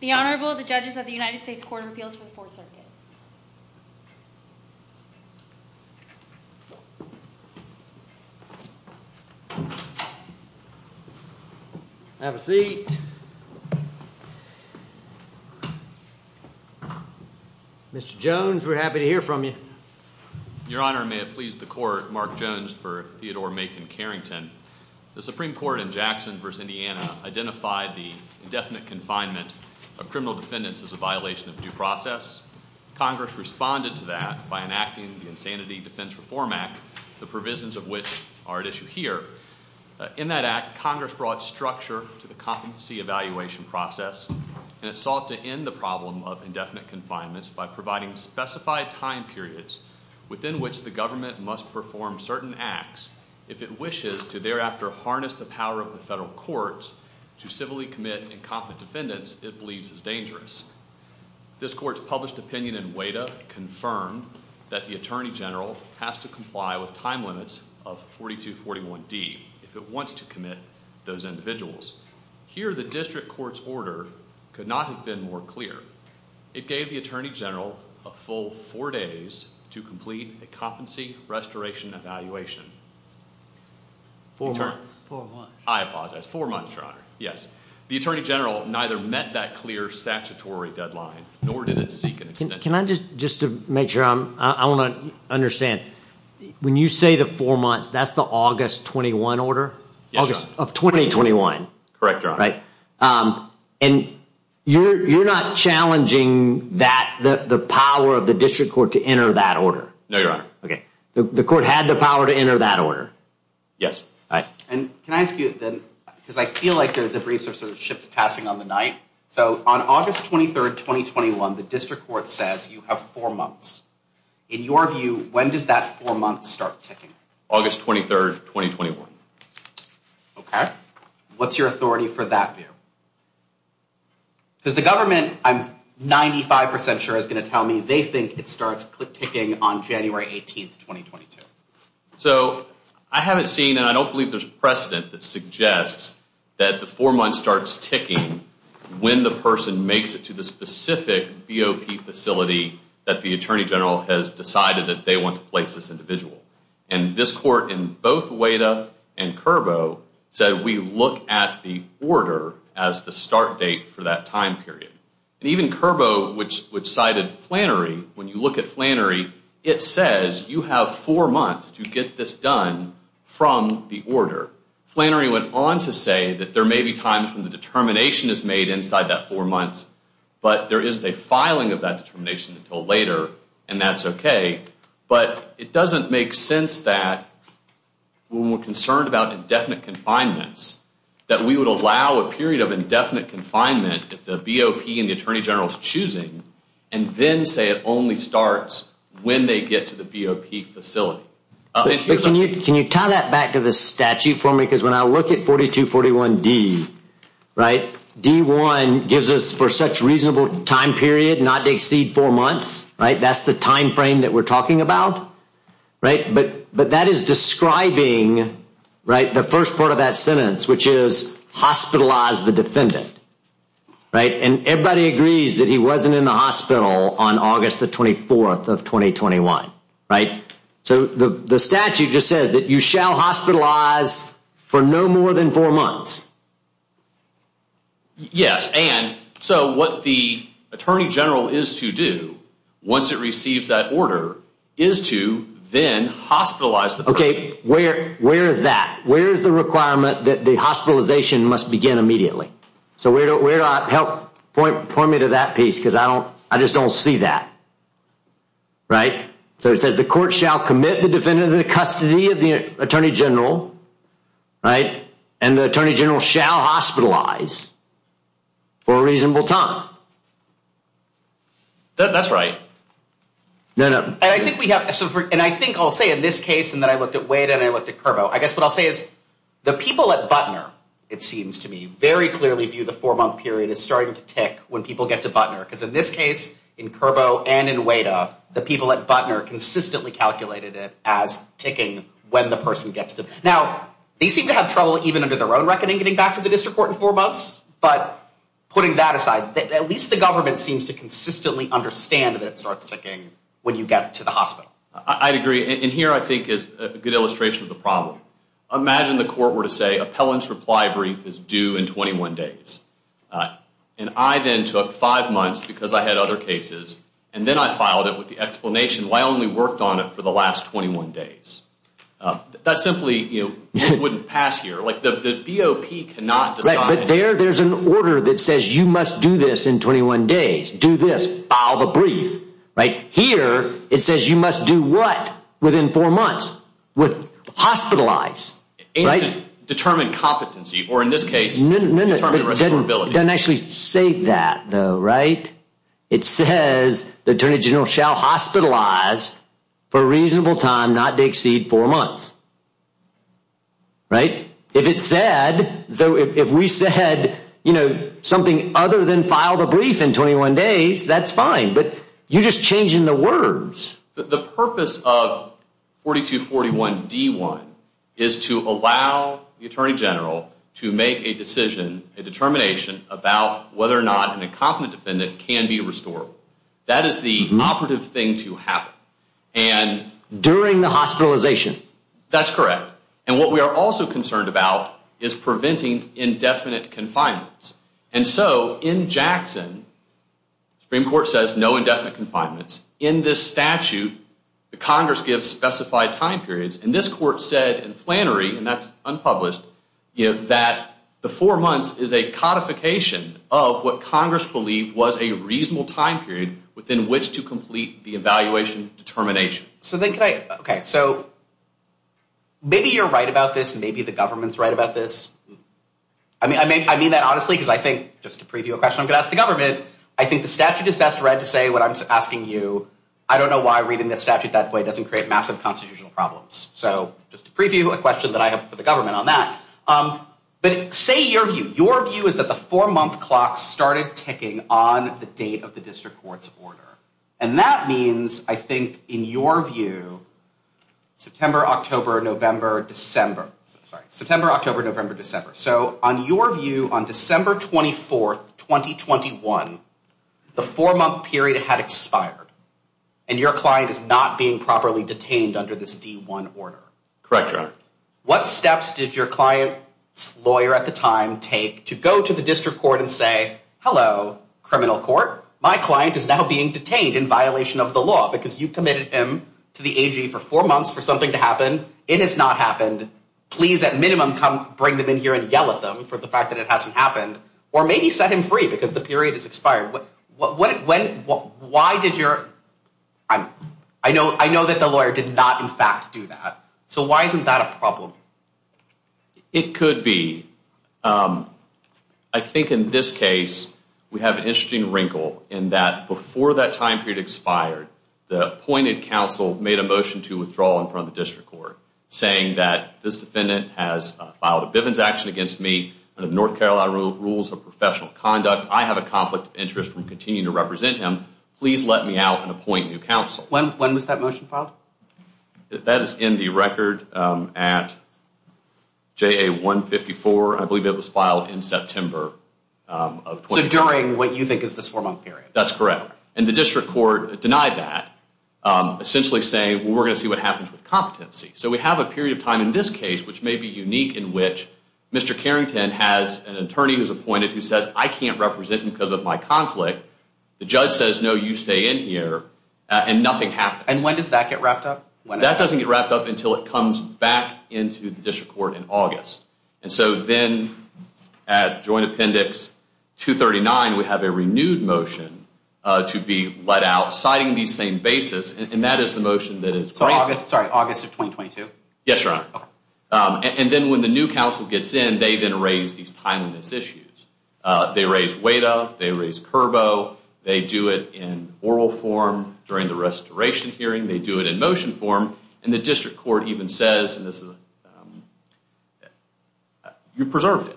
The Honorable, the Judges of the United States Court of Appeals for the Fourth Circuit. Have a seat. Mr. Jones, we're happy to hear from you. Your Honor, may it please the Court, Mark Jones for Theodore Macon Carrington. The Supreme Court in Jackson v. Indiana identified the indefinite confinement of criminal defendants as a violation of due process. Congress responded to that by enacting the Insanity Defense Reform Act, the provisions of which are at issue here. In that act, Congress brought structure to the competency evaluation process, and it sought to end the problem of indefinite confinements by providing specified time periods within which the government must perform certain acts if it wishes to thereafter harness the power of the federal courts to civilly commit incompetent defendants it believes is dangerous. This Court's published opinion in WADA confirmed that the Attorney General has to comply with time limits of 4241D if it wants to commit those individuals. Here, the district court's order could not have been more clear. It gave the Attorney General a full four days to complete a competency restoration evaluation. Four months? Four months. I apologize. Four months, Your Honor. Yes. The Attorney General neither met that clear statutory deadline nor did it seek an extension. Can I just, just to make sure, I want to understand. When you say the four months, that's the August 21 order? Yes, Your Honor. Of 2021? Correct, Your Honor. Right. And you're not challenging that, the power of the district court to enter that order? No, Your Honor. Okay. The court had the power to enter that order? Yes. All right. And can I ask you then, because I feel like the briefs are sort of ships passing on the night. So on August 23rd, 2021, the district court says you have four months. In your view, when does that four months start ticking? August 23rd, 2021. Okay. What's your authority for that view? Because the government, I'm 95% sure, is going to tell me they think it starts ticking on January 18th, 2022. So I haven't seen, and I don't believe there's precedent that suggests that the four months starts ticking when the person makes it to the specific BOP facility that the Attorney General has decided that they want to place this individual. And this court in both Ueda and Curbo said we look at the order as the start date for that time period. And even Curbo, which cited Flannery, when you look at Flannery, it says you have four months to get this done from the order. Flannery went on to say that there may be times when the determination is made inside that four months, but there isn't a filing of that determination until later, and that's okay. But it doesn't make sense that when we're concerned about indefinite confinements, that we would allow a period of indefinite confinement if the BOP and the Attorney General is choosing, and then say it only starts when they get to the BOP facility. Can you tie that back to the statute for me? Because when I look at 4241D, right, D1 gives us for such reasonable time period not to exceed four months, right? That's what we're talking about, right? But that is describing, right, the first part of that sentence, which is hospitalized the defendant, right? And everybody agrees that he wasn't in the hospital on August the 24th of 2021, right? So the statute just says that you shall hospitalize for no more than four months. Yes, and so what the Attorney General is to do once it receives that order is to then hospitalize the person. Okay, where is that? Where is the requirement that the hospitalization must begin immediately? So where do I help point me to that piece because I just don't see that, right? So it says the court shall commit the defendant into custody of the Attorney General, right? And the Attorney General shall hospitalize for a reasonable time. That's right. No, no. And I think we have, and I think I'll say in this case and that I looked at WADA and I looked at CURBO, I guess what I'll say is the people at Butner, it seems to me, very clearly view the four-month period as starting to tick when people get to Butner. Because in this case, in CURBO and in WADA, the people at Butner consistently calculated it as ticking when the person gets to. Now, they seem to have trouble even under their own reckoning getting back to the district court in four months, but putting that aside, at least the government seems to consistently understand that it starts ticking when you get to the hospital. I agree. And here I think is a good illustration of the problem. Imagine the court were to say, appellant's reply brief is due in 21 days. And I then took five months because I had other cases, and then I filed it with the explanation, well, I only worked on it for the last 21 days. That simply wouldn't pass here. The BOP cannot decide. But there, there's an order that says you must do this in 21 days. Do this. File the brief. Here, it says you must do what within four months? Hospitalize. Determine competency, or in this case, determine restorability. It doesn't actually say that, though, right? It says the attorney general shall hospitalize for a reasonable time not to exceed four months. Right? If it said, so if we said, you know, something other than file the brief in 21 days, that's fine. But you're just changing the words. The purpose of 4241D1 is to allow the attorney general to make a decision, a determination, about whether or not an incompetent defendant can be restored. That is the operative thing to happen. During the hospitalization. That's correct. And what we are also concerned about is preventing indefinite confinements. And so in Jackson, the Supreme Court says no indefinite confinements. In this statute, the Congress gives specified time periods. And this court said in Flannery, and that's unpublished, that the four months is a codification of what Congress believed was a reasonable time period within which to complete the evaluation determination. So then can I, okay, so maybe you're right about this and maybe the government's right about this. I mean, I mean, I mean that honestly, because I think just to preview a question I'm going to ask the government, I think the statute is best read to say what I'm asking you. I don't know why reading the statute that way doesn't create massive constitutional problems. So just to preview a question that I have for the government on that. But say your view, your view is that the four month clock started ticking on the date of the district court's order. And that means I think in your view, September, October, November, December, September, October, November, December. So on your view on December 24th, 2021, the four month period had expired. And your client is not being properly detained under this D1 order. Correct, Your Honor. What steps did your client's lawyer at the time take to go to the district court and say, hello, criminal court? My client is now being detained in violation of the law because you committed him to the AG for four months for something to happen. It has not happened. Please at minimum come bring them in here and yell at them for the fact that it hasn't happened. Or maybe set him free because the period has expired. Why did your, I know that the lawyer did not in fact do that. So why isn't that a problem? It could be. I think in this case, we have an interesting wrinkle in that before that time period expired, the appointed counsel made a motion to withdraw in front of the district court, saying that this defendant has filed a Bivens action against me under North Carolina rules of professional conduct. I have a conflict of interest and continue to represent him. Please let me out and appoint new counsel. When was that motion filed? That is in the record at JA 154. I believe it was filed in September of 2010. So during what you think is the four-month period. That's correct. And the district court denied that, essentially saying, well, we're going to see what happens with competency. So we have a period of time in this case which may be unique in which Mr. Carrington has an attorney who's appointed who says, I can't represent him because of my conflict. The judge says, no, you stay in here, and nothing happens. And when does that get wrapped up? That doesn't get wrapped up until it comes back into the district court in August. And so then at Joint Appendix 239, we have a renewed motion to be let out citing these same basis, and that is the motion that is granted. Sorry, August of 2022? Yes, Your Honor. And then when the new counsel gets in, they then raise these timeliness issues. They raise weight up. They raise curbo. They do it in oral form during the restoration hearing. They do it in motion form. And the district court even says, you preserved it.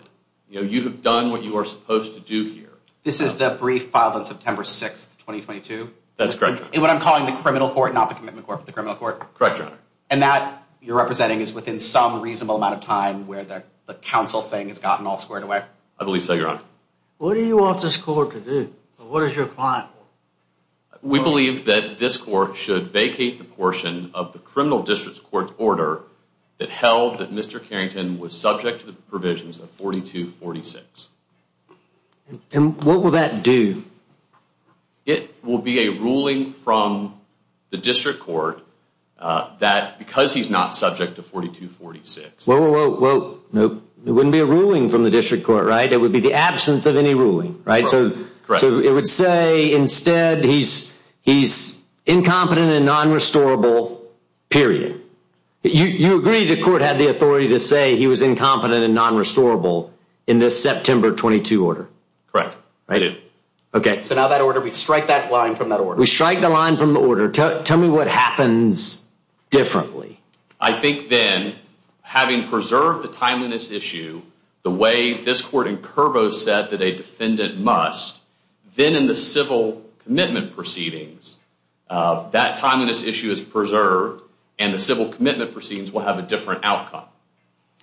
You have done what you are supposed to do here. This is the brief filed on September 6, 2022? That's correct, Your Honor. What I'm calling the criminal court, not the commitment court, but the criminal court? Correct, Your Honor. And that you're representing is within some reasonable amount of time where the counsel thing has gotten all squared away? I believe so, Your Honor. What do you want this court to do? What does your client want? We believe that this court should vacate the portion of the criminal district court order that held that Mr. Carrington was subject to the provisions of 4246. And what will that do? It will be a ruling from the district court that because he's not subject to 4246. Whoa, whoa, whoa. Nope. It wouldn't be a ruling from the district court, right? It would be the absence of any ruling, right? Correct. So it would say instead he's incompetent and non-restorable, period. You agree the court had the authority to say he was incompetent and non-restorable in this September 22 order? Correct. Okay. So now that order, we strike that line from that order. We strike the line from the order. Tell me what happens differently. I think then having preserved the timeliness issue the way this court in Curbo said that a defendant must, then in the civil commitment proceedings, that timeliness issue is preserved and the civil commitment proceedings will have a different outcome.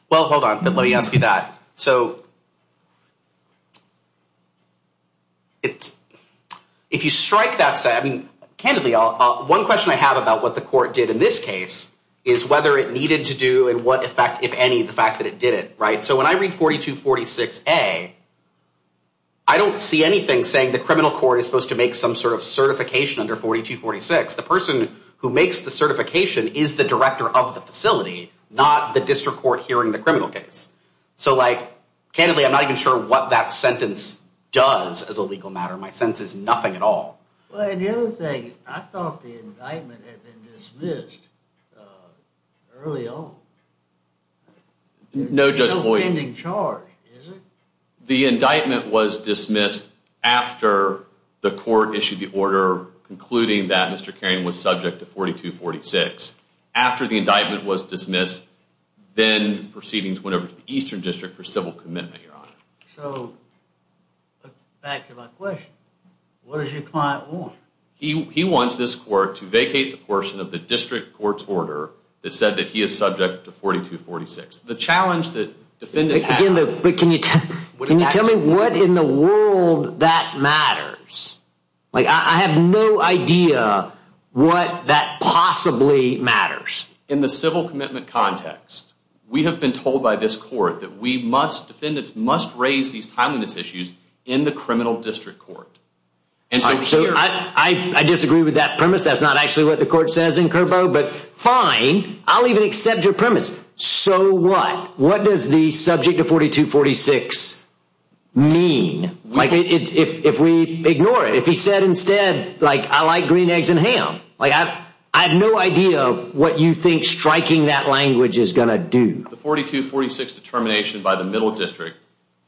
Well, hold on. Let me ask you that. So if you strike that, I mean, candidly, one question I have about what the court did in this case is whether it needed to do and what effect, if any, the fact that it did it, right? So when I read 4246A, I don't see anything saying the criminal court is supposed to make some sort of certification under 4246. The person who makes the certification is the director of the facility, not the district court hearing the criminal case. So, like, candidly, I'm not even sure what that sentence does as a legal matter. My sense is nothing at all. Well, and the other thing, I thought the indictment had been dismissed early on. No, Judge Floyd. No pending charge, is it? The indictment was dismissed after the court issued the order concluding that Mr. Caron was subject to 4246. After the indictment was dismissed, then proceedings went over to the Eastern District for civil commitment, Your Honor. So, back to my question, what does your client want? He wants this court to vacate the portion of the district court's order that said that he is subject to 4246. The challenge that defendants have... Can you tell me what in the world that matters? Like, I have no idea what that possibly matters. In the civil commitment context, we have been told by this court that we must... Defendants must raise these timeliness issues in the criminal district court. So, I disagree with that premise. That's not actually what the court says in Curbo, but fine. I'll even accept your premise. So, what? What does the subject of 4246 mean? Like, if we ignore it. If he said instead, like, I like green eggs and ham. Like, I have no idea what you think striking that language is going to do. The 4246 determination by the middle district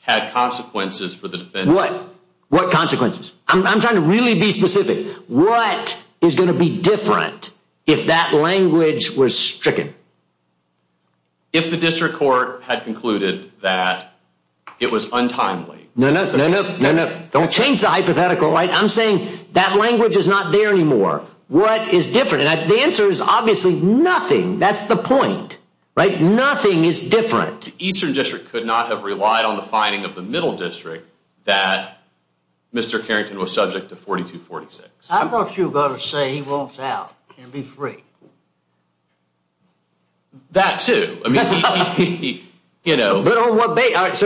had consequences for the defendant. What? What consequences? I'm trying to really be specific. What is going to be different if that language was stricken? If the district court had concluded that it was untimely. No, no, no, no, no. Don't change the hypothetical, right? I'm saying that language is not there anymore. What is different? And the answer is obviously nothing. That's the point. Right? Nothing is different. The eastern district could not have relied on the finding of the middle district that Mr. Carrington was subject to 4246. I thought you were going to say he walks out and be free. That too. I mean, he, you know. But on what basis?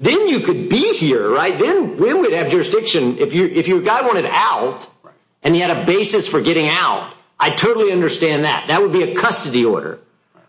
Then you could be here, right? Then we would have jurisdiction. If your guy wanted out and he had a basis for getting out, I totally understand that. That would be a custody order.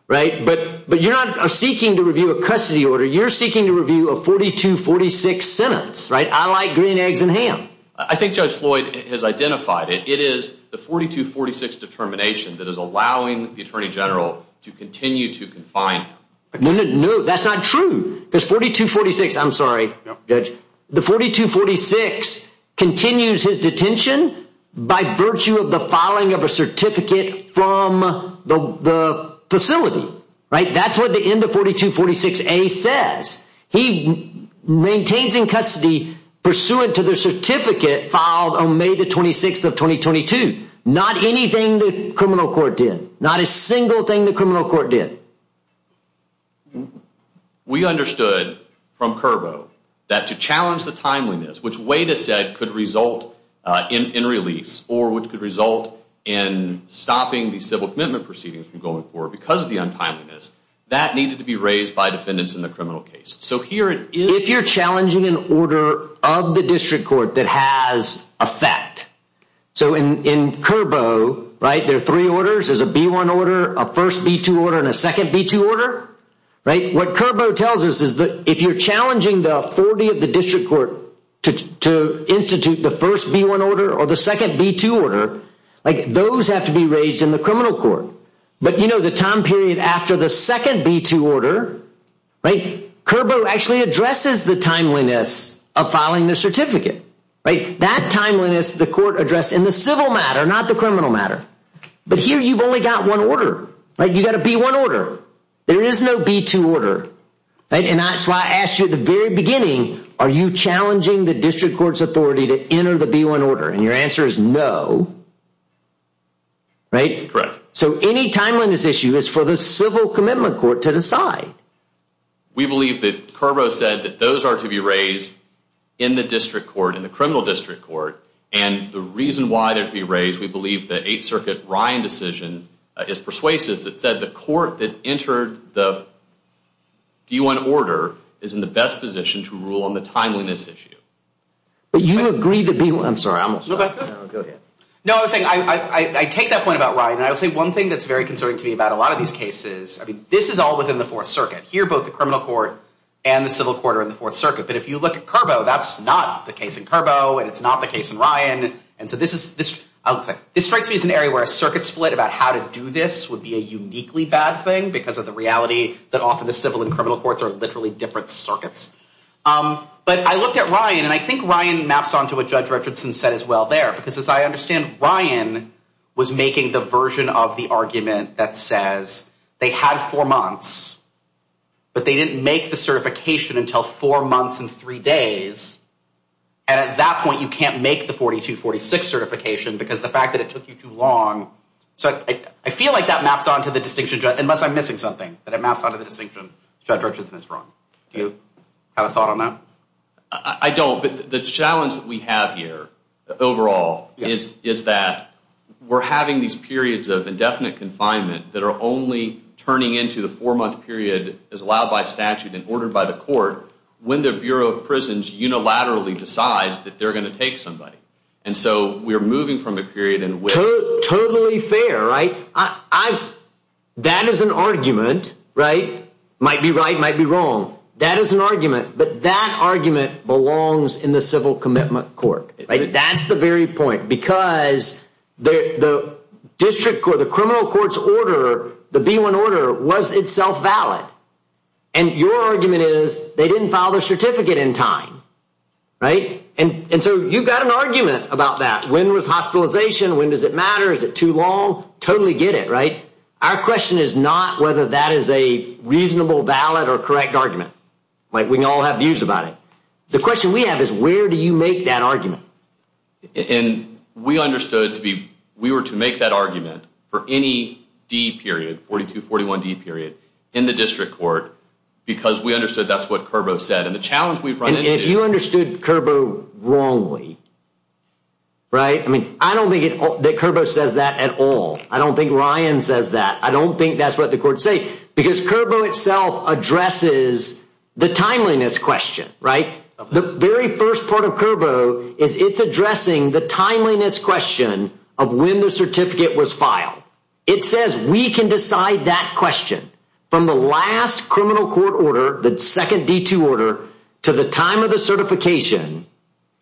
Right? But you're not seeking to review a custody order. You're seeking to review a 4246 sentence. Right? I like green eggs and ham. I think Judge Floyd has identified it. It is the 4246 determination that is allowing the attorney general to continue to confine him. No, no, no. That's not true. There's 4246. I'm sorry, Judge. The 4246 continues his detention by virtue of the filing of a certificate from the facility. Right? That's what the end of 4246A says. He maintains in custody pursuant to the certificate filed on May 26th of 2022. Not anything the criminal court did. Not a single thing the criminal court did. We understood from Curbo that to challenge the timeliness, which Wade has said could result in release, or which could result in stopping the civil commitment proceedings from going forward because of the untimeliness, that needed to be raised by defendants in the criminal case. So here it is. If you're challenging an order of the district court that has effect, so in Curbo, right, there are three orders. There's a B-1 order, a first B-2 order, and a second B-2 order. Right? What Curbo tells us is that if you're challenging the authority of the district court to institute the first B-1 order or the second B-2 order, like, those have to be raised in the criminal court. But, you know, the time period after the second B-2 order, right, Curbo actually addresses the timeliness of filing the certificate. Right? That timeliness the court addressed in the civil matter, not the criminal matter. But here you've only got one order. Right? You've got a B-1 order. There is no B-2 order. Right? And that's why I asked you at the very beginning, are you challenging the district court's authority to enter the B-1 order? And your answer is no. Right? Correct. So any timeliness issue is for the civil commitment court to decide. We believe that Curbo said that those are to be raised in the district court, in the criminal district court. And the reason why they're to be raised, we believe the Eighth Circuit Ryan decision is persuasive. It said the court that entered the B-1 order is in the best position to rule on the timeliness issue. But you agree that B-1. I'm sorry. Go ahead. No, I was saying, I take that point about Ryan. And I would say one thing that's very concerning to me about a lot of these cases, I mean, this is all within the Fourth Circuit. Here both the criminal court and the civil court are in the Fourth Circuit. But if you look at Curbo, that's not the case in Curbo, and it's not the case in Ryan. And so this is, this strikes me as an area where a circuit split about how to do this would be a uniquely bad thing because of the reality that often the civil and criminal courts are literally different circuits. But I looked at Ryan, and I think Ryan maps onto what Judge Richardson said as well there. Because as I understand, Ryan was making the version of the argument that says they had four months, but they didn't make the certification until four months and three days. And at that point, you can't make the 4246 certification because the fact that it took you too long. So I feel like that maps onto the distinction, unless I'm missing something, that it maps onto the distinction Judge Richardson is wrong. Do you have a thought on that? I don't. No, but the challenge that we have here overall is that we're having these periods of indefinite confinement that are only turning into the four-month period as allowed by statute and ordered by the court when the Bureau of Prisons unilaterally decides that they're going to take somebody. And so we're moving from a period in which... Totally fair, right? That is an argument, right? Might be right, might be wrong. That is an argument, but that argument belongs in the civil commitment court, right? That's the very point because the district court, the criminal court's order, the B-1 order was itself valid. And your argument is they didn't file their certificate in time, right? And so you've got an argument about that. When was hospitalization? When does it matter? Is it too long? Totally get it, right? Our question is not whether that is a reasonable, valid, or correct argument. We can all have views about it. The question we have is where do you make that argument? And we understood we were to make that argument for any D period, 42-41D period, in the district court because we understood that's what Curbo said. And the challenge we've run into... And if you understood Curbo wrongly, right? I mean, I don't think that Curbo says that at all. I don't think Ryan says that. I don't think that's what the court said because Curbo itself addresses the timeliness question, right? The very first part of Curbo is it's addressing the timeliness question of when the certificate was filed. It says we can decide that question from the last criminal court order, the second D-2 order, to the time of the certification,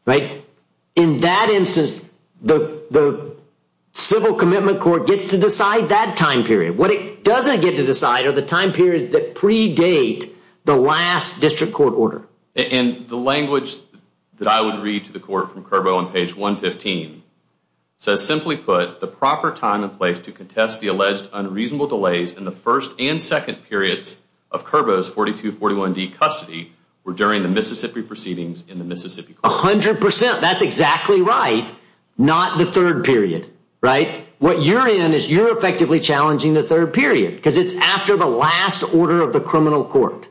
right? In that instance, the civil commitment court gets to decide that time period. What it doesn't get to decide are the time periods that predate the last district court order. And the language that I would read to the court from Curbo on page 115 says, simply put, the proper time and place to contest the alleged unreasonable delays in the first and second periods of Curbo's 42-41D custody were during the Mississippi proceedings in the Mississippi court. A hundred percent. That's exactly right. Not the third period, right? What you're in is you're effectively challenging the third period because it's after the last order of the criminal court,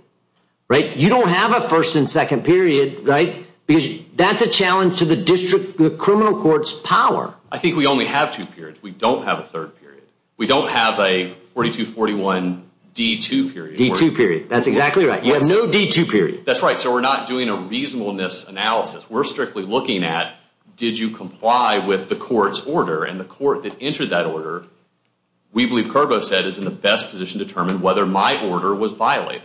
right? You don't have a first and second period, right? Because that's a challenge to the district, the criminal court's power. I think we only have two periods. We don't have a third period. We don't have a 42-41D-2 period. D-2 period. That's exactly right. You have no D-2 period. That's right. So we're not doing a reasonableness analysis. We're strictly looking at, did you comply with the court's order? And the court that entered that order, we believe Curbo said, is in the best position to determine whether my order was violated.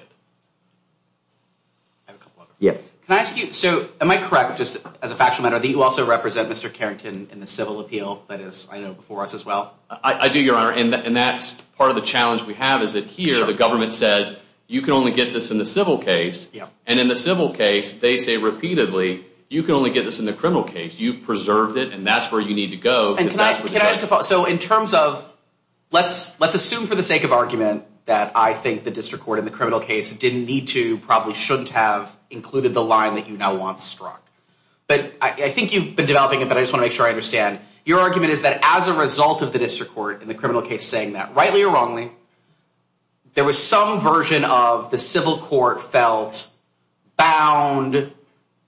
Can I ask you, so am I correct, just as a factual matter, that you also represent Mr. Carrington in the civil appeal that is, I know, before us as well? I do, Your Honor. And that's part of the challenge we have is that here the government says, you can only get this in the civil case. And in the civil case, they say repeatedly, you can only get this in the criminal case. You've preserved it, and that's where you need to go. So in terms of, let's assume for the sake of argument that I think the district court in the criminal case didn't need to, probably shouldn't have included the line that you now want struck. But I think you've been developing it, but I just want to make sure I understand. Your argument is that as a result of the district court in the criminal case saying that, rightly or wrongly, there was some version of the civil court felt bound,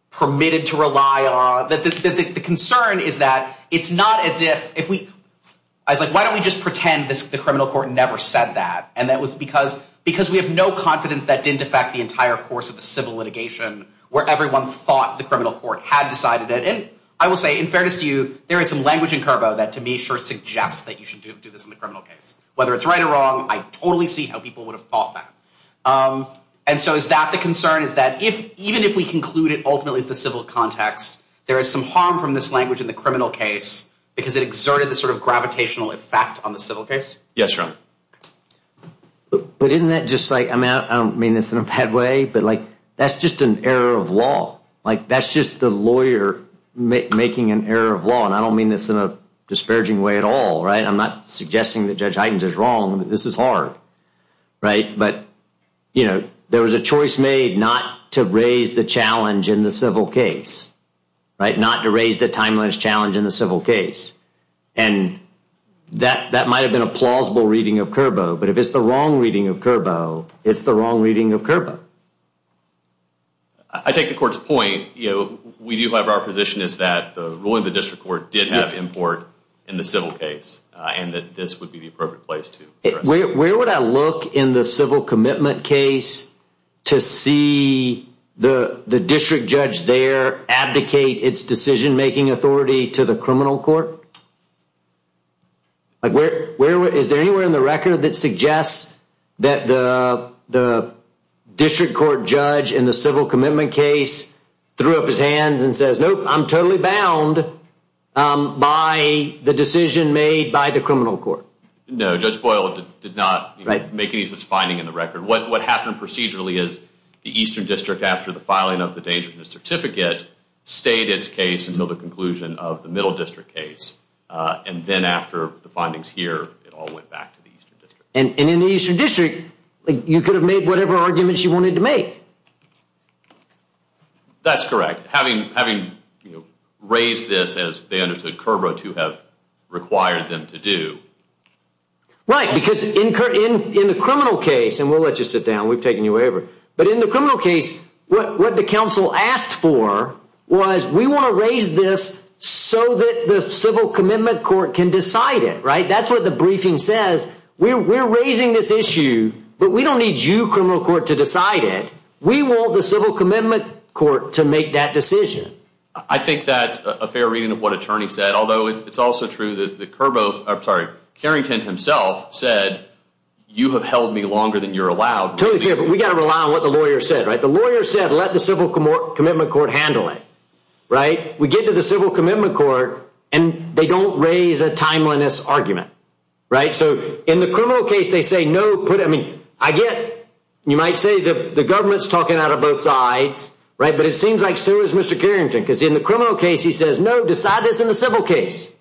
permitted to rely on. The concern is that it's not as if we, I was like, why don't we just pretend the criminal court never said that? And that was because we have no confidence that didn't affect the entire course of the civil litigation where everyone thought the criminal court had decided it. I will say, in fairness to you, there is some language in Curbo that to me sure suggests that you should do this in the criminal case. Whether it's right or wrong, I totally see how people would have thought that. And so is that the concern, is that even if we conclude it ultimately is the civil context, there is some harm from this language in the criminal case because it exerted this sort of gravitational effect on the civil case? Yes, Your Honor. But isn't that just like, I don't mean this in a bad way, but like, that's just an error of law. Like, that's just the lawyer making an error of law. And I don't mean this in a disparaging way at all, right? I'm not suggesting that Judge Hydens is wrong. This is hard, right? But, you know, there was a choice made not to raise the challenge in the civil case, right, not to raise the timeliness challenge in the civil case. And that that might have been a plausible reading of Curbo. But if it's the wrong reading of Curbo, it's the wrong reading of Curbo. I take the court's point. You know, we do have our position is that the ruling of the district court did have import in the civil case and that this would be the appropriate place to address it. Where would I look in the civil commitment case to see the district judge there abdicate its decision-making authority to the criminal court? Like, is there anywhere in the record that suggests that the district court judge in the civil commitment case threw up his hands and says, nope, I'm totally bound by the decision made by the criminal court? No, Judge Boyle did not make any such finding in the record. What happened procedurally is the Eastern District, after the filing of the Dangerousness Certificate, stayed its case until the conclusion of the Middle District case. And then after the findings here, it all went back to the Eastern District. And in the Eastern District, you could have made whatever arguments you wanted to make. That's correct. Having raised this as they understood Curbo to have required them to do. Right, because in the criminal case, and we'll let you sit down, we've taken you wherever. But in the criminal case, what the counsel asked for was we want to raise this so that the civil commitment court can decide it, right? That's what the briefing says. We're raising this issue, but we don't need you, criminal court, to decide it. We want the civil commitment court to make that decision. I think that's a fair reading of what attorney said, although it's also true that Curbo, I'm sorry, Carrington himself said, you have held me longer than you're allowed. Totally fair, but we got to rely on what the lawyer said, right? The lawyer said, let the civil commitment court handle it, right? We get to the civil commitment court, and they don't raise a timeliness argument, right? So in the criminal case, they say, no, put it, I mean, I get, you might say, the government's talking out of both sides, right? But it seems like so is Mr. Carrington, because in the criminal case, he says, no, decide this in the civil case.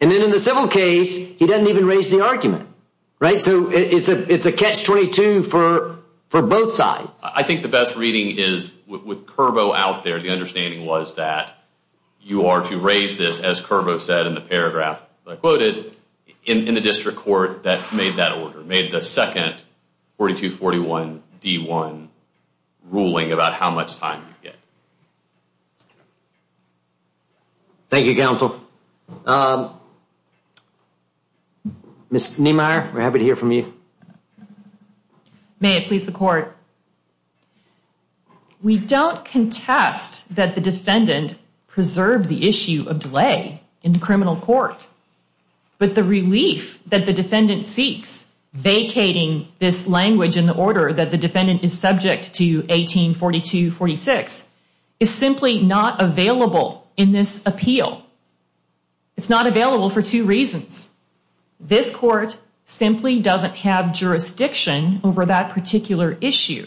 And then in the civil case, he doesn't even raise the argument, right? So it's a catch-22 for both sides. I think the best reading is with Curbo out there, the understanding was that you are to raise this, as Curbo said in the paragraph that I quoted, in the district court that made that order, made the second 4241D1 ruling about how much time you get. Thank you, counsel. Ms. Niemeyer, we're happy to hear from you. May it please the court. We don't contest that the defendant preserved the issue of delay in the criminal court, but the relief that the defendant seeks vacating this language in the order that the defendant is subject to 1842-46 is simply not available in this appeal. It's not available for two reasons. This court simply doesn't have jurisdiction over that particular issue.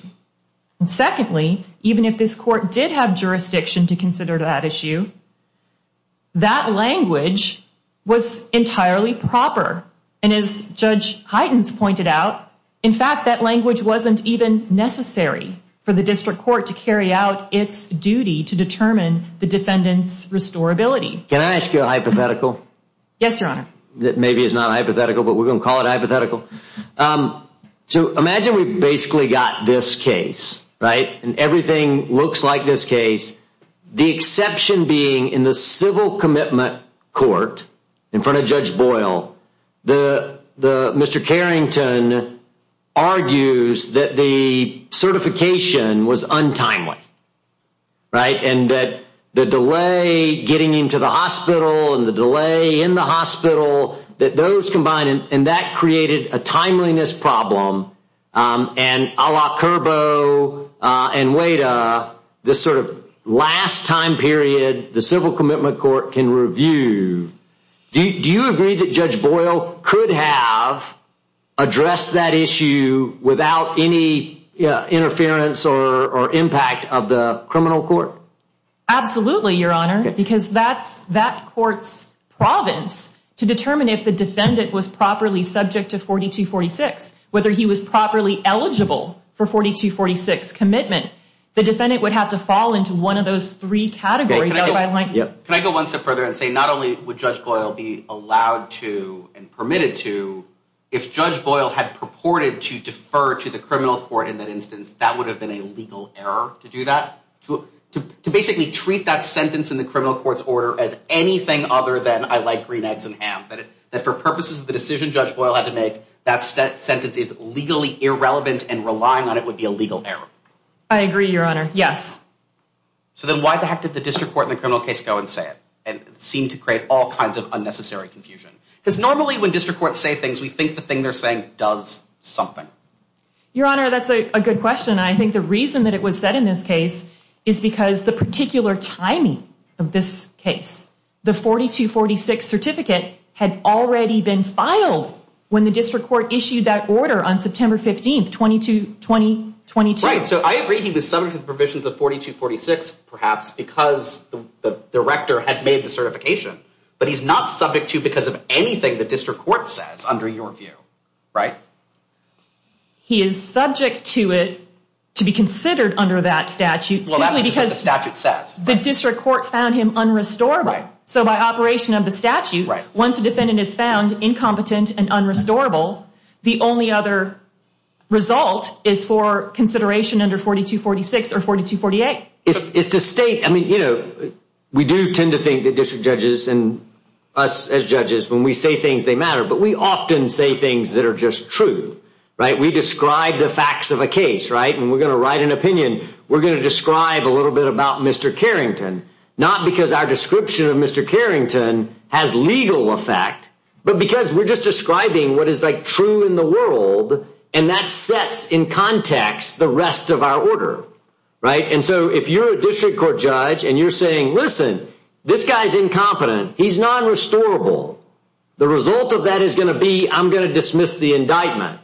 And secondly, even if this court did have jurisdiction to consider that issue, that language was entirely proper. And as Judge Heitens pointed out, in fact, that language wasn't even necessary for the district court to carry out its duty to determine the defendant's restorability. Can I ask you a hypothetical? Yes, your honor. Maybe it's not hypothetical, but we're going to call it hypothetical. So imagine we basically got this case, right, and everything looks like this case, the exception being in the civil commitment court in front of Judge Boyle, Mr. Carrington argues that the certification was untimely, right, and that the delay getting him to the hospital and the delay in the hospital, that those combined, and that created a timeliness problem, and a la Curbo and Wada, this sort of last time period the civil commitment court can review. Do you agree that Judge Boyle could have addressed that issue without any interference or impact of the criminal court? Absolutely, your honor, because that's that court's province to determine if the defendant was properly subject to 4246, whether he was properly eligible for 4246 commitment. The defendant would have to fall into one of those three categories. Can I go one step further and say not only would Judge Boyle be allowed to and permitted to, if Judge Boyle had purported to defer to the criminal court in that instance, that would have been a legal error to do that? To basically treat that sentence in the criminal court's order as anything other than I like green eggs and ham, that for purposes of the decision Judge Boyle had to make, that sentence is legally irrelevant and relying on it would be a legal error. I agree, your honor, yes. So then why the heck did the district court in the criminal case go and say it and seem to create all kinds of unnecessary confusion? Because normally when district courts say things, we think the thing they're saying does something. Your honor, that's a good question. I think the reason that it was said in this case is because the particular timing of this case, the 4246 certificate had already been filed when the district court issued that order on September 15, 2022. Right, so I agree he was subject to the provisions of 4246 perhaps because the director had made the certification, but he's not subject to because of anything the district court says under your view, right? He is subject to it to be considered under that statute simply because the district court found him unrestorable. So by operation of the statute, once a defendant is found incompetent and unrestorable, the only other result is for consideration under 4246 or 4248. It's to state, I mean, you know, we do tend to think that district judges and us as judges, when we say things, they matter, but we often say things that are just true, right? We describe the facts of a case, right? And we're going to write an opinion. We're going to describe a little bit about Mr. Carrington, not because our description of Mr. Carrington has legal effect, but because we're just describing what is, like, true in the world, and that sets in context the rest of our order, right? And so if you're a district court judge and you're saying, listen, this guy's incompetent, he's nonrestorable, the result of that is going to be I'm going to dismiss the indictment.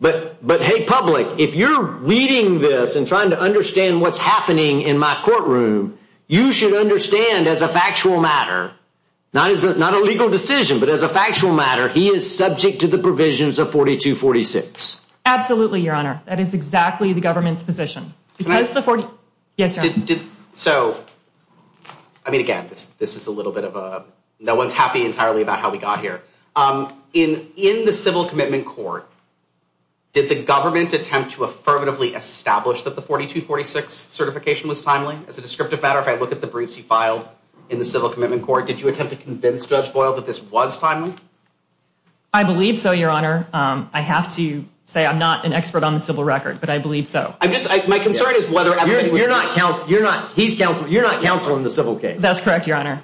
But, hey, public, if you're reading this and trying to understand what's happening in my courtroom, you should understand as a factual matter, not as a legal decision, but as a factual matter, he is subject to the provisions of 4246. Absolutely, Your Honor. That is exactly the government's position. Can I? Yes, Your Honor. So, I mean, again, this is a little bit of a no one's happy entirely about how we got here. In the civil commitment court, did the government attempt to affirmatively establish that the 4246 certification was timely? As a descriptive matter, if I look at the briefs you filed in the civil commitment court, did you attempt to convince Judge Boyle that this was timely? I believe so, Your Honor. I have to say I'm not an expert on the civil record, but I believe so. My concern is whether everybody was— You're not—he's counsel—you're not counsel in the civil case. That's correct, Your Honor.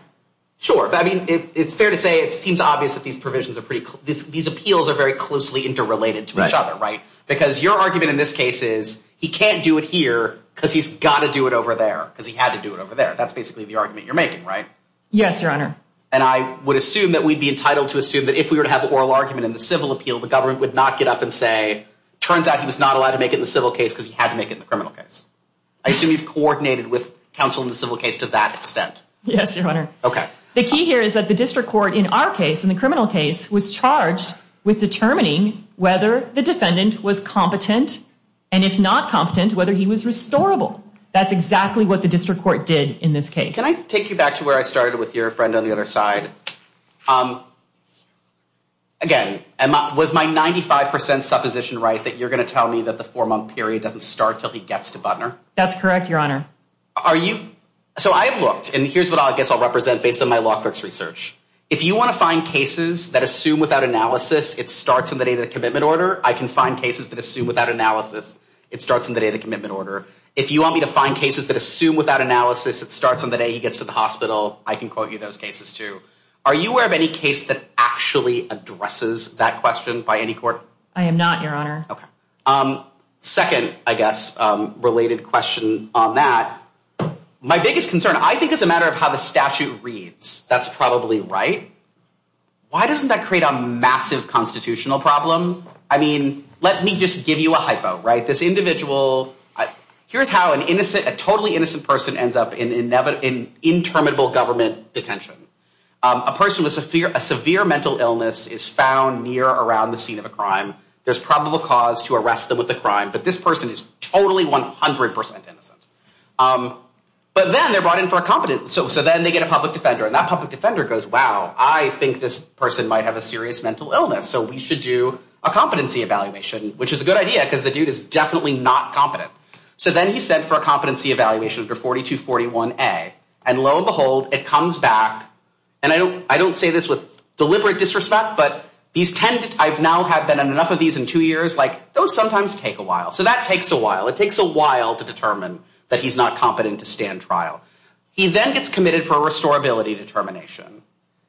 Sure. I mean, it's fair to say it seems obvious that these provisions are pretty— these appeals are very closely interrelated to each other, right? Because your argument in this case is he can't do it here because he's got to do it over there because he had to do it over there. That's basically the argument you're making, right? Yes, Your Honor. And I would assume that we'd be entitled to assume that if we were to have an oral argument in the civil appeal, the government would not get up and say, turns out he was not allowed to make it in the civil case because he had to make it in the criminal case. I assume you've coordinated with counsel in the civil case to that extent. Yes, Your Honor. Okay. The key here is that the district court in our case, in the criminal case, was charged with determining whether the defendant was competent, and if not competent, whether he was restorable. That's exactly what the district court did in this case. Can I take you back to where I started with your friend on the other side? Again, was my 95 percent supposition right that you're going to tell me that the four-month period doesn't start until he gets to Butner? That's correct, Your Honor. Are you—so I've looked, and here's what I guess I'll represent based on my law clerk's research. If you want to find cases that assume without analysis it starts on the day of the commitment order, I can find cases that assume without analysis it starts on the day of the commitment order. If you want me to find cases that assume without analysis it starts on the day he gets to the hospital, I can quote you those cases, too. Are you aware of any case that actually addresses that question by any court? I am not, Your Honor. Okay. Second, I guess, related question on that. My biggest concern, I think, is a matter of how the statute reads. That's probably right. Why doesn't that create a massive constitutional problem? I mean, let me just give you a hypo, right? This individual—here's how a totally innocent person ends up in interminable government detention. A person with a severe mental illness is found near or around the scene of a crime. There's probable cause to arrest them with a crime, but this person is totally, 100 percent innocent. But then they're brought in for a competency. So then they get a public defender, and that public defender goes, wow, I think this person might have a serious mental illness, so we should do a competency evaluation, which is a good idea because the dude is definitely not competent. So then he's sent for a competency evaluation under 4241A, and lo and behold, it comes back. And I don't say this with deliberate disrespect, but I've now had been on enough of these in two years. Those sometimes take a while. So that takes a while. It takes a while to determine that he's not competent to stand trial. He then gets committed for a restorability determination.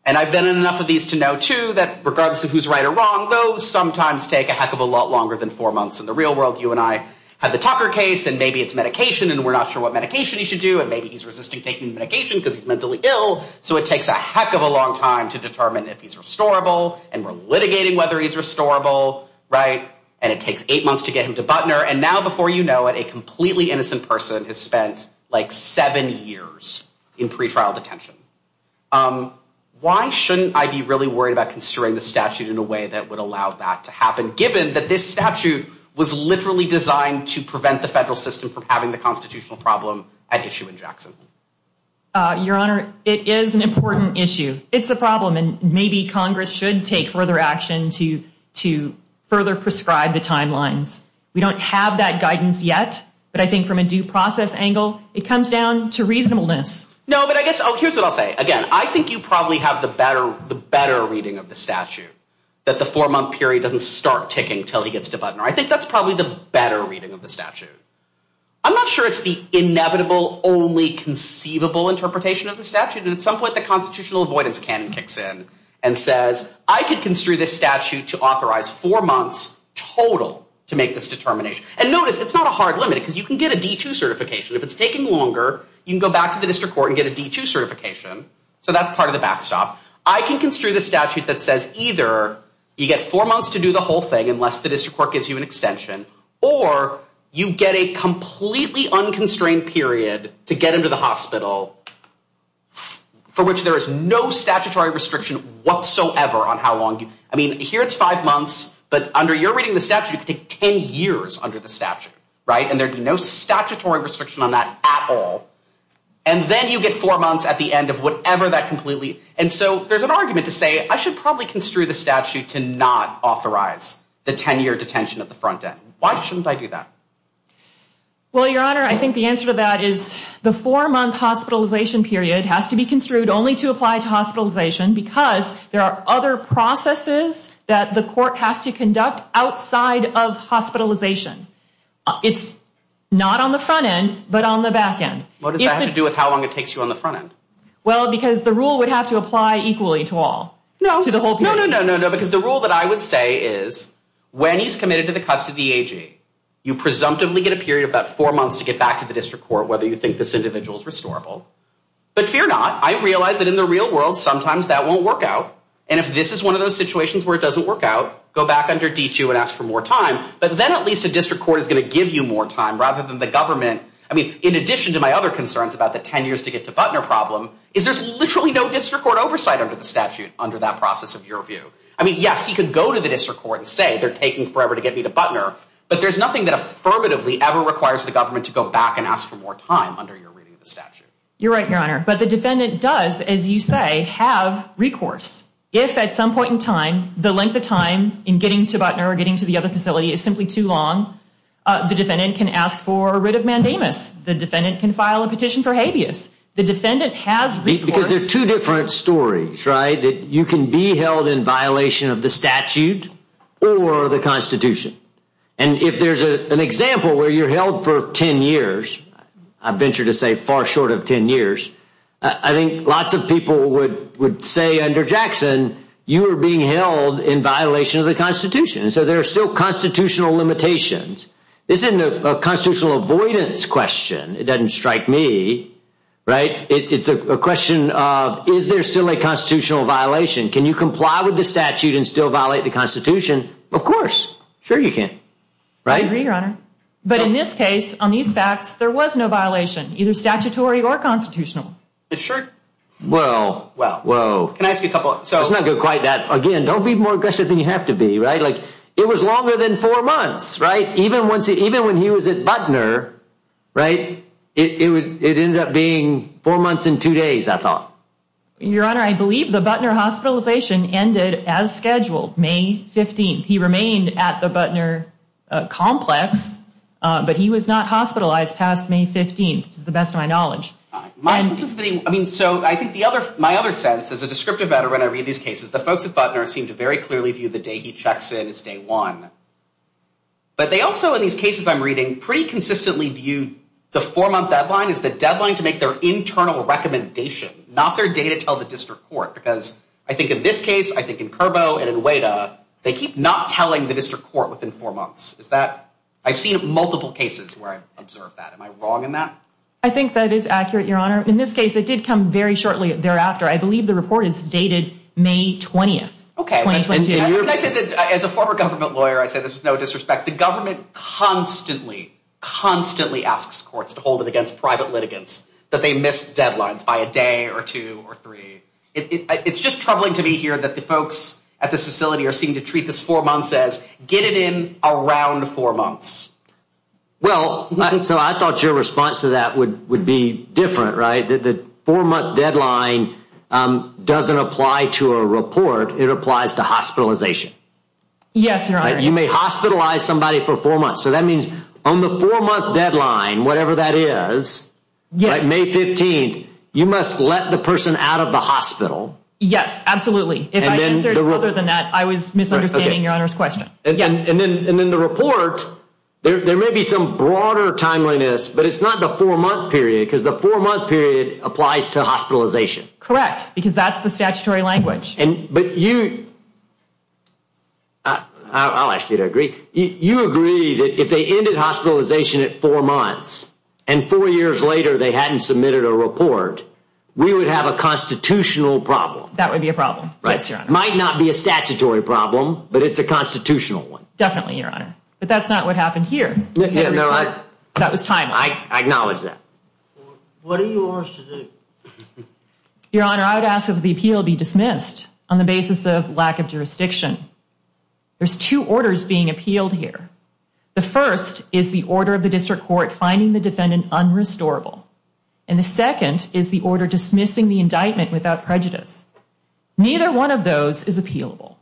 And I've been in enough of these to know, too, that regardless of who's right or wrong, those sometimes take a heck of a lot longer than four months. In the real world, you and I have the Tucker case, and maybe it's medication, and we're not sure what medication he should do, and maybe he's resisting taking medication because he's mentally ill. So it takes a heck of a long time to determine if he's restorable, and we're litigating whether he's restorable, right? And it takes eight months to get him to Butner, and now, before you know it, a completely innocent person has spent, like, seven years in pretrial detention. Why shouldn't I be really worried about considering the statute in a way that would allow that to happen, given that this statute was literally designed to prevent the federal system from having the constitutional problem at issue in Jackson? Your Honor, it is an important issue. It's a problem, and maybe Congress should take further action to further prescribe the timelines. We don't have that guidance yet, but I think from a due process angle, it comes down to reasonableness. No, but I guess, oh, here's what I'll say. Again, I think you probably have the better reading of the statute, that the four-month period doesn't start ticking until he gets to Butner. I think that's probably the better reading of the statute. I'm not sure it's the inevitable, only conceivable interpretation of the statute, and at some point the constitutional avoidance cannon kicks in and says, I can construe this statute to authorize four months total to make this determination. And notice, it's not a hard limit, because you can get a D-2 certification. If it's taking longer, you can go back to the district court and get a D-2 certification. So that's part of the backstop. I can construe the statute that says either you get four months to do the whole thing unless the district court gives you an extension, or you get a completely unconstrained period to get him to the hospital for which there is no statutory restriction whatsoever on how long. I mean, here it's five months, but under your reading of the statute, it could take 10 years under the statute, right? And there'd be no statutory restriction on that at all. And then you get four months at the end of whatever that completely – and so there's an argument to say, I should probably construe the statute to not authorize the 10-year detention at the front end. Why shouldn't I do that? Well, Your Honor, I think the answer to that is the four-month hospitalization period has to be construed only to apply to hospitalization because there are other processes that the court has to conduct outside of hospitalization. It's not on the front end, but on the back end. What does that have to do with how long it takes you on the front end? Well, because the rule would have to apply equally to all, to the whole period. No, no, no, no, no, no, because the rule that I would say is when he's committed to the custody of the AG, you presumptively get a period of about four months to get back to the district court whether you think this individual is restorable. But fear not. I realize that in the real world, sometimes that won't work out. And if this is one of those situations where it doesn't work out, go back under D2 and ask for more time. But then at least the district court is going to give you more time rather than the government. I mean, in addition to my other concerns about the 10 years to get to Butner problem, is there's literally no district court oversight under the statute under that process of your view. I mean, yes, he could go to the district court and say they're taking forever to get me to Butner, but there's nothing that affirmatively ever requires the government to go back and ask for more time under your reading of the statute. You're right, Your Honor, but the defendant does, as you say, have recourse. If at some point in time, the length of time in getting to Butner or getting to the other facility is simply too long, the defendant can ask for a writ of mandamus. The defendant can file a petition for habeas. The defendant has recourse. Because there are two different stories, right, that you can be held in violation of the statute or the Constitution. And if there's an example where you're held for 10 years, I venture to say far short of 10 years, I think lots of people would say under Jackson, you are being held in violation of the Constitution. And so there are still constitutional limitations. This isn't a constitutional avoidance question. It doesn't strike me, right? It's a question of is there still a constitutional violation? Can you comply with the statute and still violate the Constitution? Of course. Sure you can. I agree, Your Honor. But in this case, on these facts, there was no violation, either statutory or constitutional. It's true. Well, whoa. Can I ask you a couple? It's not quite that. Again, don't be more aggressive than you have to be, right? Like, it was longer than four months, right? Even when he was at Butner, right, it ended up being four months and two days, I thought. Your Honor, I believe the Butner hospitalization ended as scheduled, May 15th. He remained at the Butner complex, but he was not hospitalized past May 15th, to the best of my knowledge. So I think my other sense, as a descriptive veteran, when I read these cases, the folks at Butner seem to very clearly view the day he checks in as day one. But they also, in these cases I'm reading, pretty consistently view the four-month deadline as the deadline to make their internal recommendation, not their day to tell the district court. Because I think in this case, I think in Curbo and in Weta, they keep not telling the district court within four months. I've seen multiple cases where I've observed that. Am I wrong in that? I think that is accurate, Your Honor. In this case, it did come very shortly thereafter. I believe the report is dated May 20th, 2022. As a former government lawyer, I say this with no disrespect. The government constantly, constantly asks courts to hold it against private litigants that they miss deadlines by a day or two or three. It's just troubling to me here that the folks at this facility are seen to treat this four months as get it in around four months. Well, so I thought your response to that would be different, right? The four-month deadline doesn't apply to a report. It applies to hospitalization. Yes, Your Honor. You may hospitalize somebody for four months. So that means on the four-month deadline, whatever that is, like May 15th, you must let the person out of the hospital. Yes, absolutely. If I answered other than that, I was misunderstanding Your Honor's question. And then the report, there may be some broader timeliness, but it's not the four-month period because the four-month period applies to hospitalization. Correct, because that's the statutory language. But you, I'll ask you to agree. You agree that if they ended hospitalization at four months and four years later they hadn't submitted a report, we would have a constitutional problem. That would be a problem, yes, Your Honor. It might not be a statutory problem, but it's a constitutional one. Definitely, Your Honor. But that's not what happened here. That was timely. I acknowledge that. What are your orders to do? Your Honor, I would ask that the appeal be dismissed on the basis of lack of jurisdiction. There's two orders being appealed here. The first is the order of the district court finding the defendant unrestorable. And the second is the order dismissing the indictment without prejudice. Neither one of those is appealable.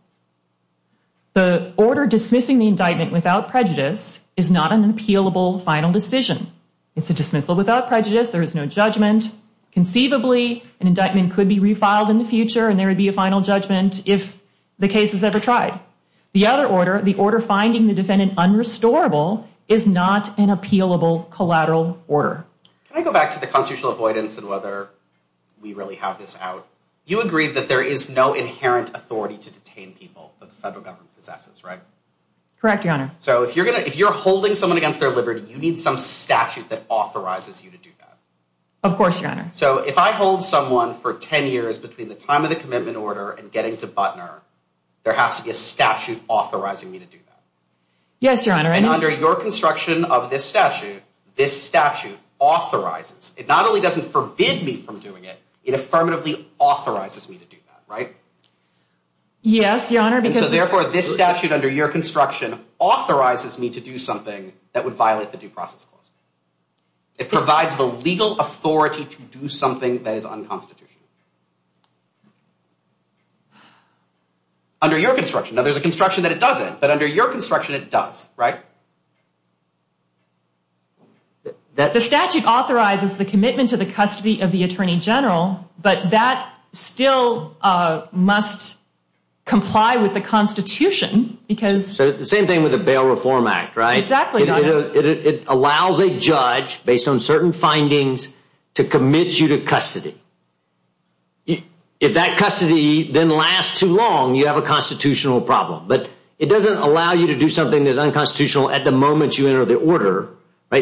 The order dismissing the indictment without prejudice is not an appealable final decision. It's a dismissal without prejudice. There is no judgment. Conceivably, an indictment could be refiled in the future and there would be a final judgment if the case is ever tried. The other order, the order finding the defendant unrestorable, is not an appealable collateral order. Can I go back to the constitutional avoidance and whether we really have this out? You agreed that there is no inherent authority to detain people that the federal government possesses, right? Correct, Your Honor. So if you're holding someone against their liberty, you need some statute that authorizes you to do that. Of course, Your Honor. So if I hold someone for 10 years between the time of the commitment order and getting to Butner, there has to be a statute authorizing me to do that. Yes, Your Honor. And under your construction of this statute, this statute authorizes. It not only doesn't forbid me from doing it, it affirmatively authorizes me to do that, right? Yes, Your Honor. And so therefore, this statute under your construction authorizes me to do something that would violate the due process clause. It provides the legal authority to do something that is unconstitutional. Under your construction. Now, there's a construction that it doesn't, but under your construction, it does, right? The statute authorizes the commitment to the custody of the Attorney General, but that still must comply with the Constitution because. So the same thing with the Bail Reform Act, right? Exactly, Your Honor. It allows a judge, based on certain findings, to commit you to custody. If that custody then lasts too long, you have a constitutional problem. But it doesn't allow you to do something that is unconstitutional at the moment you enter the order. The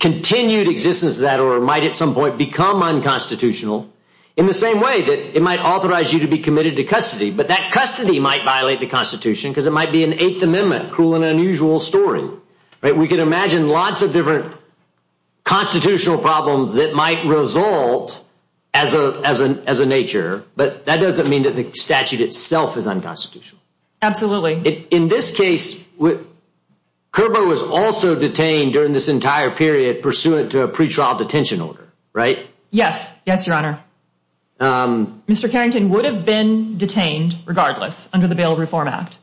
continued existence of that order might at some point become unconstitutional in the same way that it might authorize you to be committed to custody. But that custody might violate the Constitution because it might be an Eighth Amendment, cruel and unusual story. We can imagine lots of different constitutional problems that might result as a nature, but that doesn't mean that the statute itself is unconstitutional. Absolutely. In this case, Curbo was also detained during this entire period pursuant to a pretrial detention order, right? Yes. Yes, Your Honor. Mr. Carrington would have been detained regardless under the Bail Reform Act.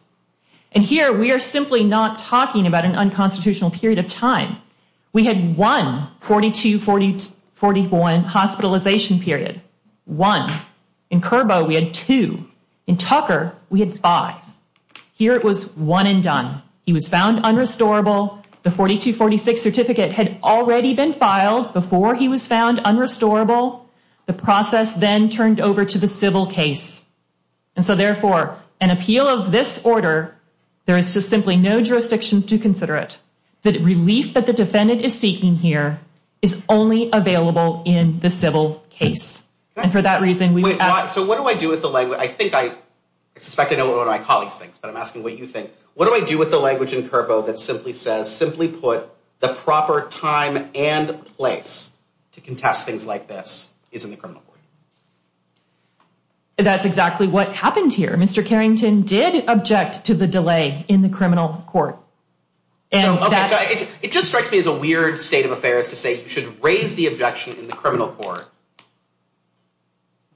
And here, we are simply not talking about an unconstitutional period of time. We had one 42-40-41 hospitalization period. One. In Curbo, we had two. In Tucker, we had five. Here, it was one and done. He was found unrestorable. The 42-46 certificate had already been filed before he was found unrestorable. The process then turned over to the civil case. And so, therefore, an appeal of this order, there is just simply no jurisdiction to consider it. The relief that the defendant is seeking here is only available in the civil case. So what do I do with the language? I suspect I know what one of my colleagues thinks, but I'm asking what you think. What do I do with the language in Curbo that simply says, simply put, the proper time and place to contest things like this is in the criminal court? That's exactly what happened here. Mr. Carrington did object to the delay in the criminal court. It just strikes me as a weird state of affairs to say you should raise the objection in the criminal court,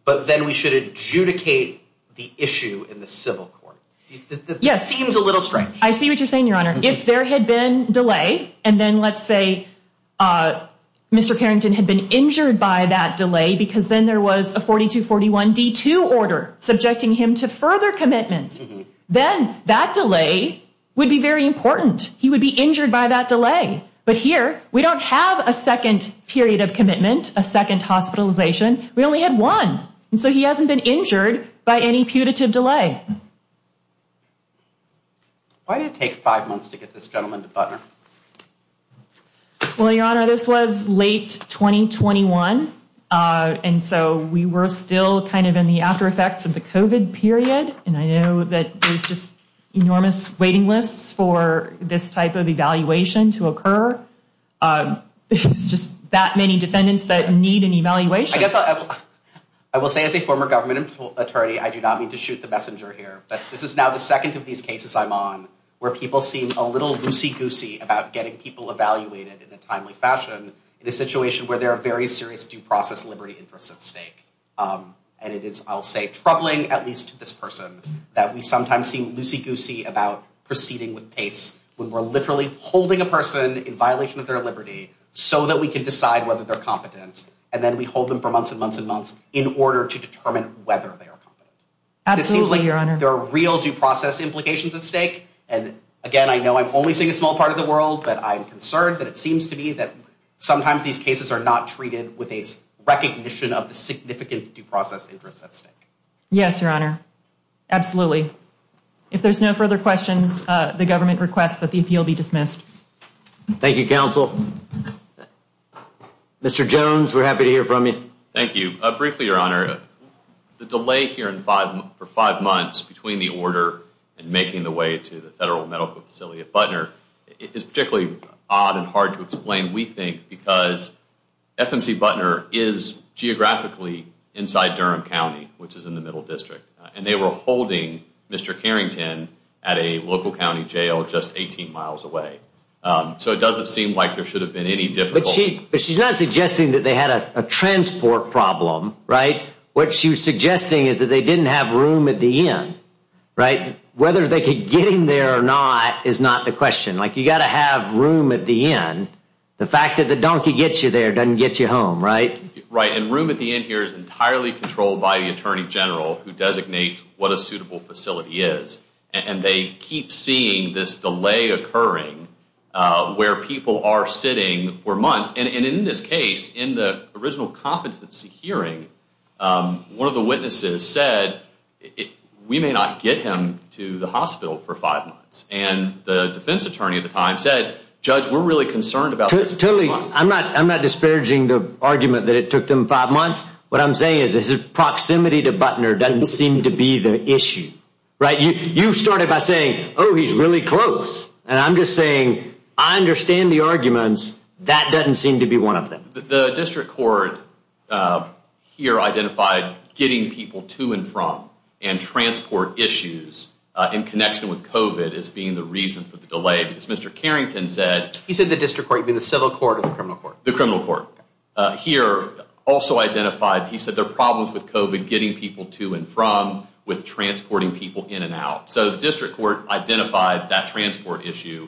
but then we should adjudicate the issue in the civil court. It seems a little strange. I see what you're saying, Your Honor. If there had been delay, and then let's say Mr. Carrington had been injured by that delay because then there was a 42-41-D2 order subjecting him to further commitment, then that delay would be very important. He would be injured by that delay. But here, we don't have a second period of commitment, a second hospitalization. We only had one. And so he hasn't been injured by any putative delay. Why did it take five months to get this gentleman to Butner? Well, Your Honor, this was late 2021. And so we were still kind of in the aftereffects of the COVID period. And I know that there's just enormous waiting lists for this type of evaluation to occur. There's just that many defendants that need an evaluation. I guess I will say as a former government attorney, I do not mean to shoot the messenger here, but this is now the second of these cases I'm on where people seem a little loosey-goosey about getting people evaluated in a timely fashion in a situation where there are very serious due process liberty interests at stake. And it is, I'll say, troubling, at least to this person, that we sometimes seem loosey-goosey about proceeding with pace when we're literally holding a person in violation of their liberty so that we can decide whether they're competent. And then we hold them for months and months and months in order to determine whether they are competent. Absolutely, Your Honor. It seems like there are real due process implications at stake. And again, I know I'm only seeing a small part of the world, but I'm concerned that it seems to me that sometimes these cases are not treated with a recognition of the significant due process interests at stake. Yes, Your Honor. Absolutely. If there's no further questions, the government requests that the appeal be dismissed. Thank you, counsel. Mr. Jones, we're happy to hear from you. Thank you. Briefly, Your Honor, the delay here for five months between the order and making the way to the we think because FMC Butner is geographically inside Durham County, which is in the middle district, and they were holding Mr. Carrington at a local county jail just 18 miles away. So it doesn't seem like there should have been any difficulty. But she's not suggesting that they had a transport problem, right? What she was suggesting is that they didn't have room at the inn, right? Whether they could get in there or not is not the question. You've got to have room at the inn. The fact that the donkey gets you there doesn't get you home, right? Right. And room at the inn here is entirely controlled by the attorney general who designates what a suitable facility is. And they keep seeing this delay occurring where people are sitting for months. And in this case, in the original competency hearing, one of the witnesses said, we may not get him to the hospital for five months. And the defense attorney at the time said, Judge, we're really concerned about this. Totally. I'm not I'm not disparaging the argument that it took them five months. What I'm saying is this proximity to Butner doesn't seem to be the issue. Right. You started by saying, oh, he's really close. And I'm just saying I understand the arguments. That doesn't seem to be one of them. The district court here identified getting people to and from and transport issues in connection with COVID as being the reason for the delay, because Mr. Carrington said he said the district court, the civil court, the criminal court, the criminal court here also identified. He said there are problems with COVID getting people to and from with transporting people in and out. So the district court identified that transport issue,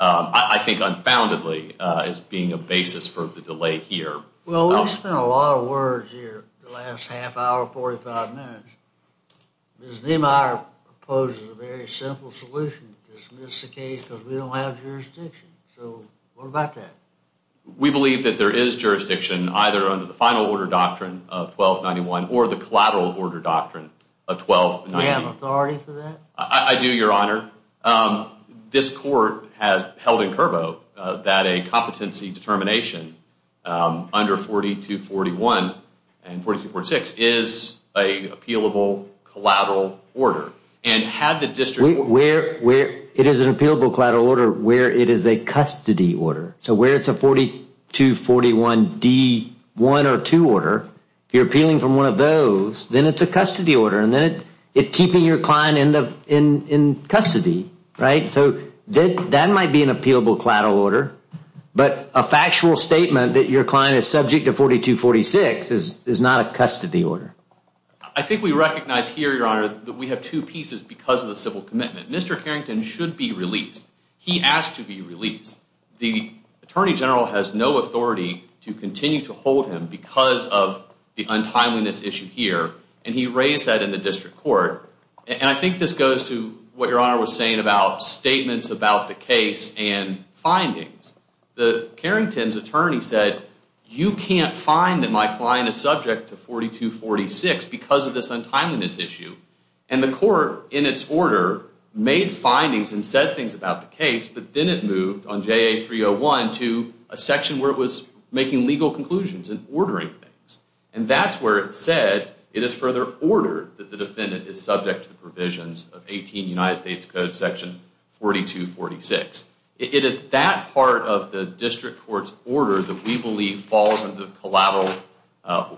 I think, unfoundedly as being a basis for the delay here. Well, we've spent a lot of words here the last half hour, 45 minutes. Ms. Niemeyer proposes a very simple solution to dismiss the case because we don't have jurisdiction. So what about that? We believe that there is jurisdiction either under the final order doctrine of 1291 or the collateral order doctrine of 1290. Do we have authority for that? I do, Your Honor. This court has held in curvo that a competency determination under 4241 and 4246 is an appealable collateral order. And had the district court. It is an appealable collateral order where it is a custody order. So where it's a 4241D1 or 2 order, you're appealing from one of those. Then it's a custody order. And then it's keeping your client in custody. Right. So that might be an appealable collateral order. But a factual statement that your client is subject to 4246 is not a custody order. I think we recognize here, Your Honor, that we have two pieces because of the civil commitment. He asked to be released. The attorney general has no authority to continue to hold him because of the untimeliness issue here. And he raised that in the district court. And I think this goes to what Your Honor was saying about statements about the case and findings. Carrington's attorney said, you can't find that my client is subject to 4246 because of this untimeliness issue. And the court, in its order, made findings and said things about the case. But then it moved on JA301 to a section where it was making legal conclusions and ordering things. And that's where it said it is further ordered that the defendant is subject to the provisions of 18 United States Code section 4246. It is that part of the district court's order that we believe falls under the collateral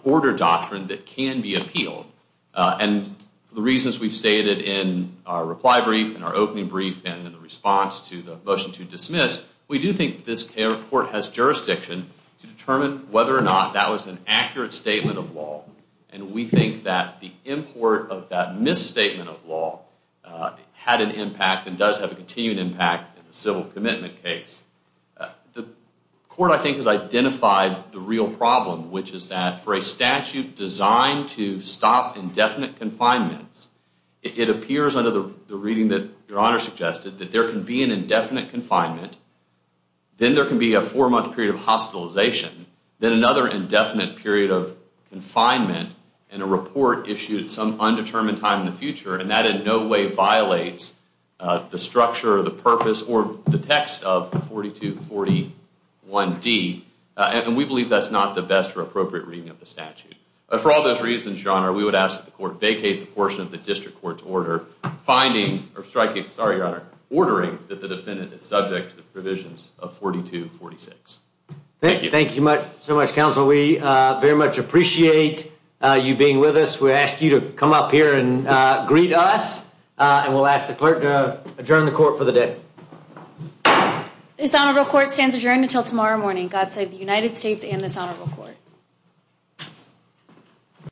order doctrine that can be appealed. And the reasons we've stated in our reply brief, in our opening brief, and in the response to the motion to dismiss, we do think this court has jurisdiction to determine whether or not that was an accurate statement of law. And we think that the import of that misstatement of law had an impact and does have a continuing impact in the civil commitment case. The court, I think, has identified the real problem, which is that for a statute designed to stop indefinite confinements, it appears under the reading that Your Honor suggested that there can be an indefinite confinement. Then there can be a four-month period of hospitalization. Then another indefinite period of confinement and a report issued at some undetermined time in the future. And that in no way violates the structure, the purpose, or the text of 4241D. And we believe that's not the best or appropriate reading of the statute. For all those reasons, Your Honor, we would ask that the court vacate the portion of the district court's order finding, or striking, sorry, Your Honor, ordering that the defendant is subject to the provisions of 4246. Thank you. Thank you so much, Counsel. We very much appreciate you being with us. We ask you to come up here and greet us. And we'll ask the clerk to adjourn the court for the day. This honorable court stands adjourned until tomorrow morning. God save the United States and this honorable court.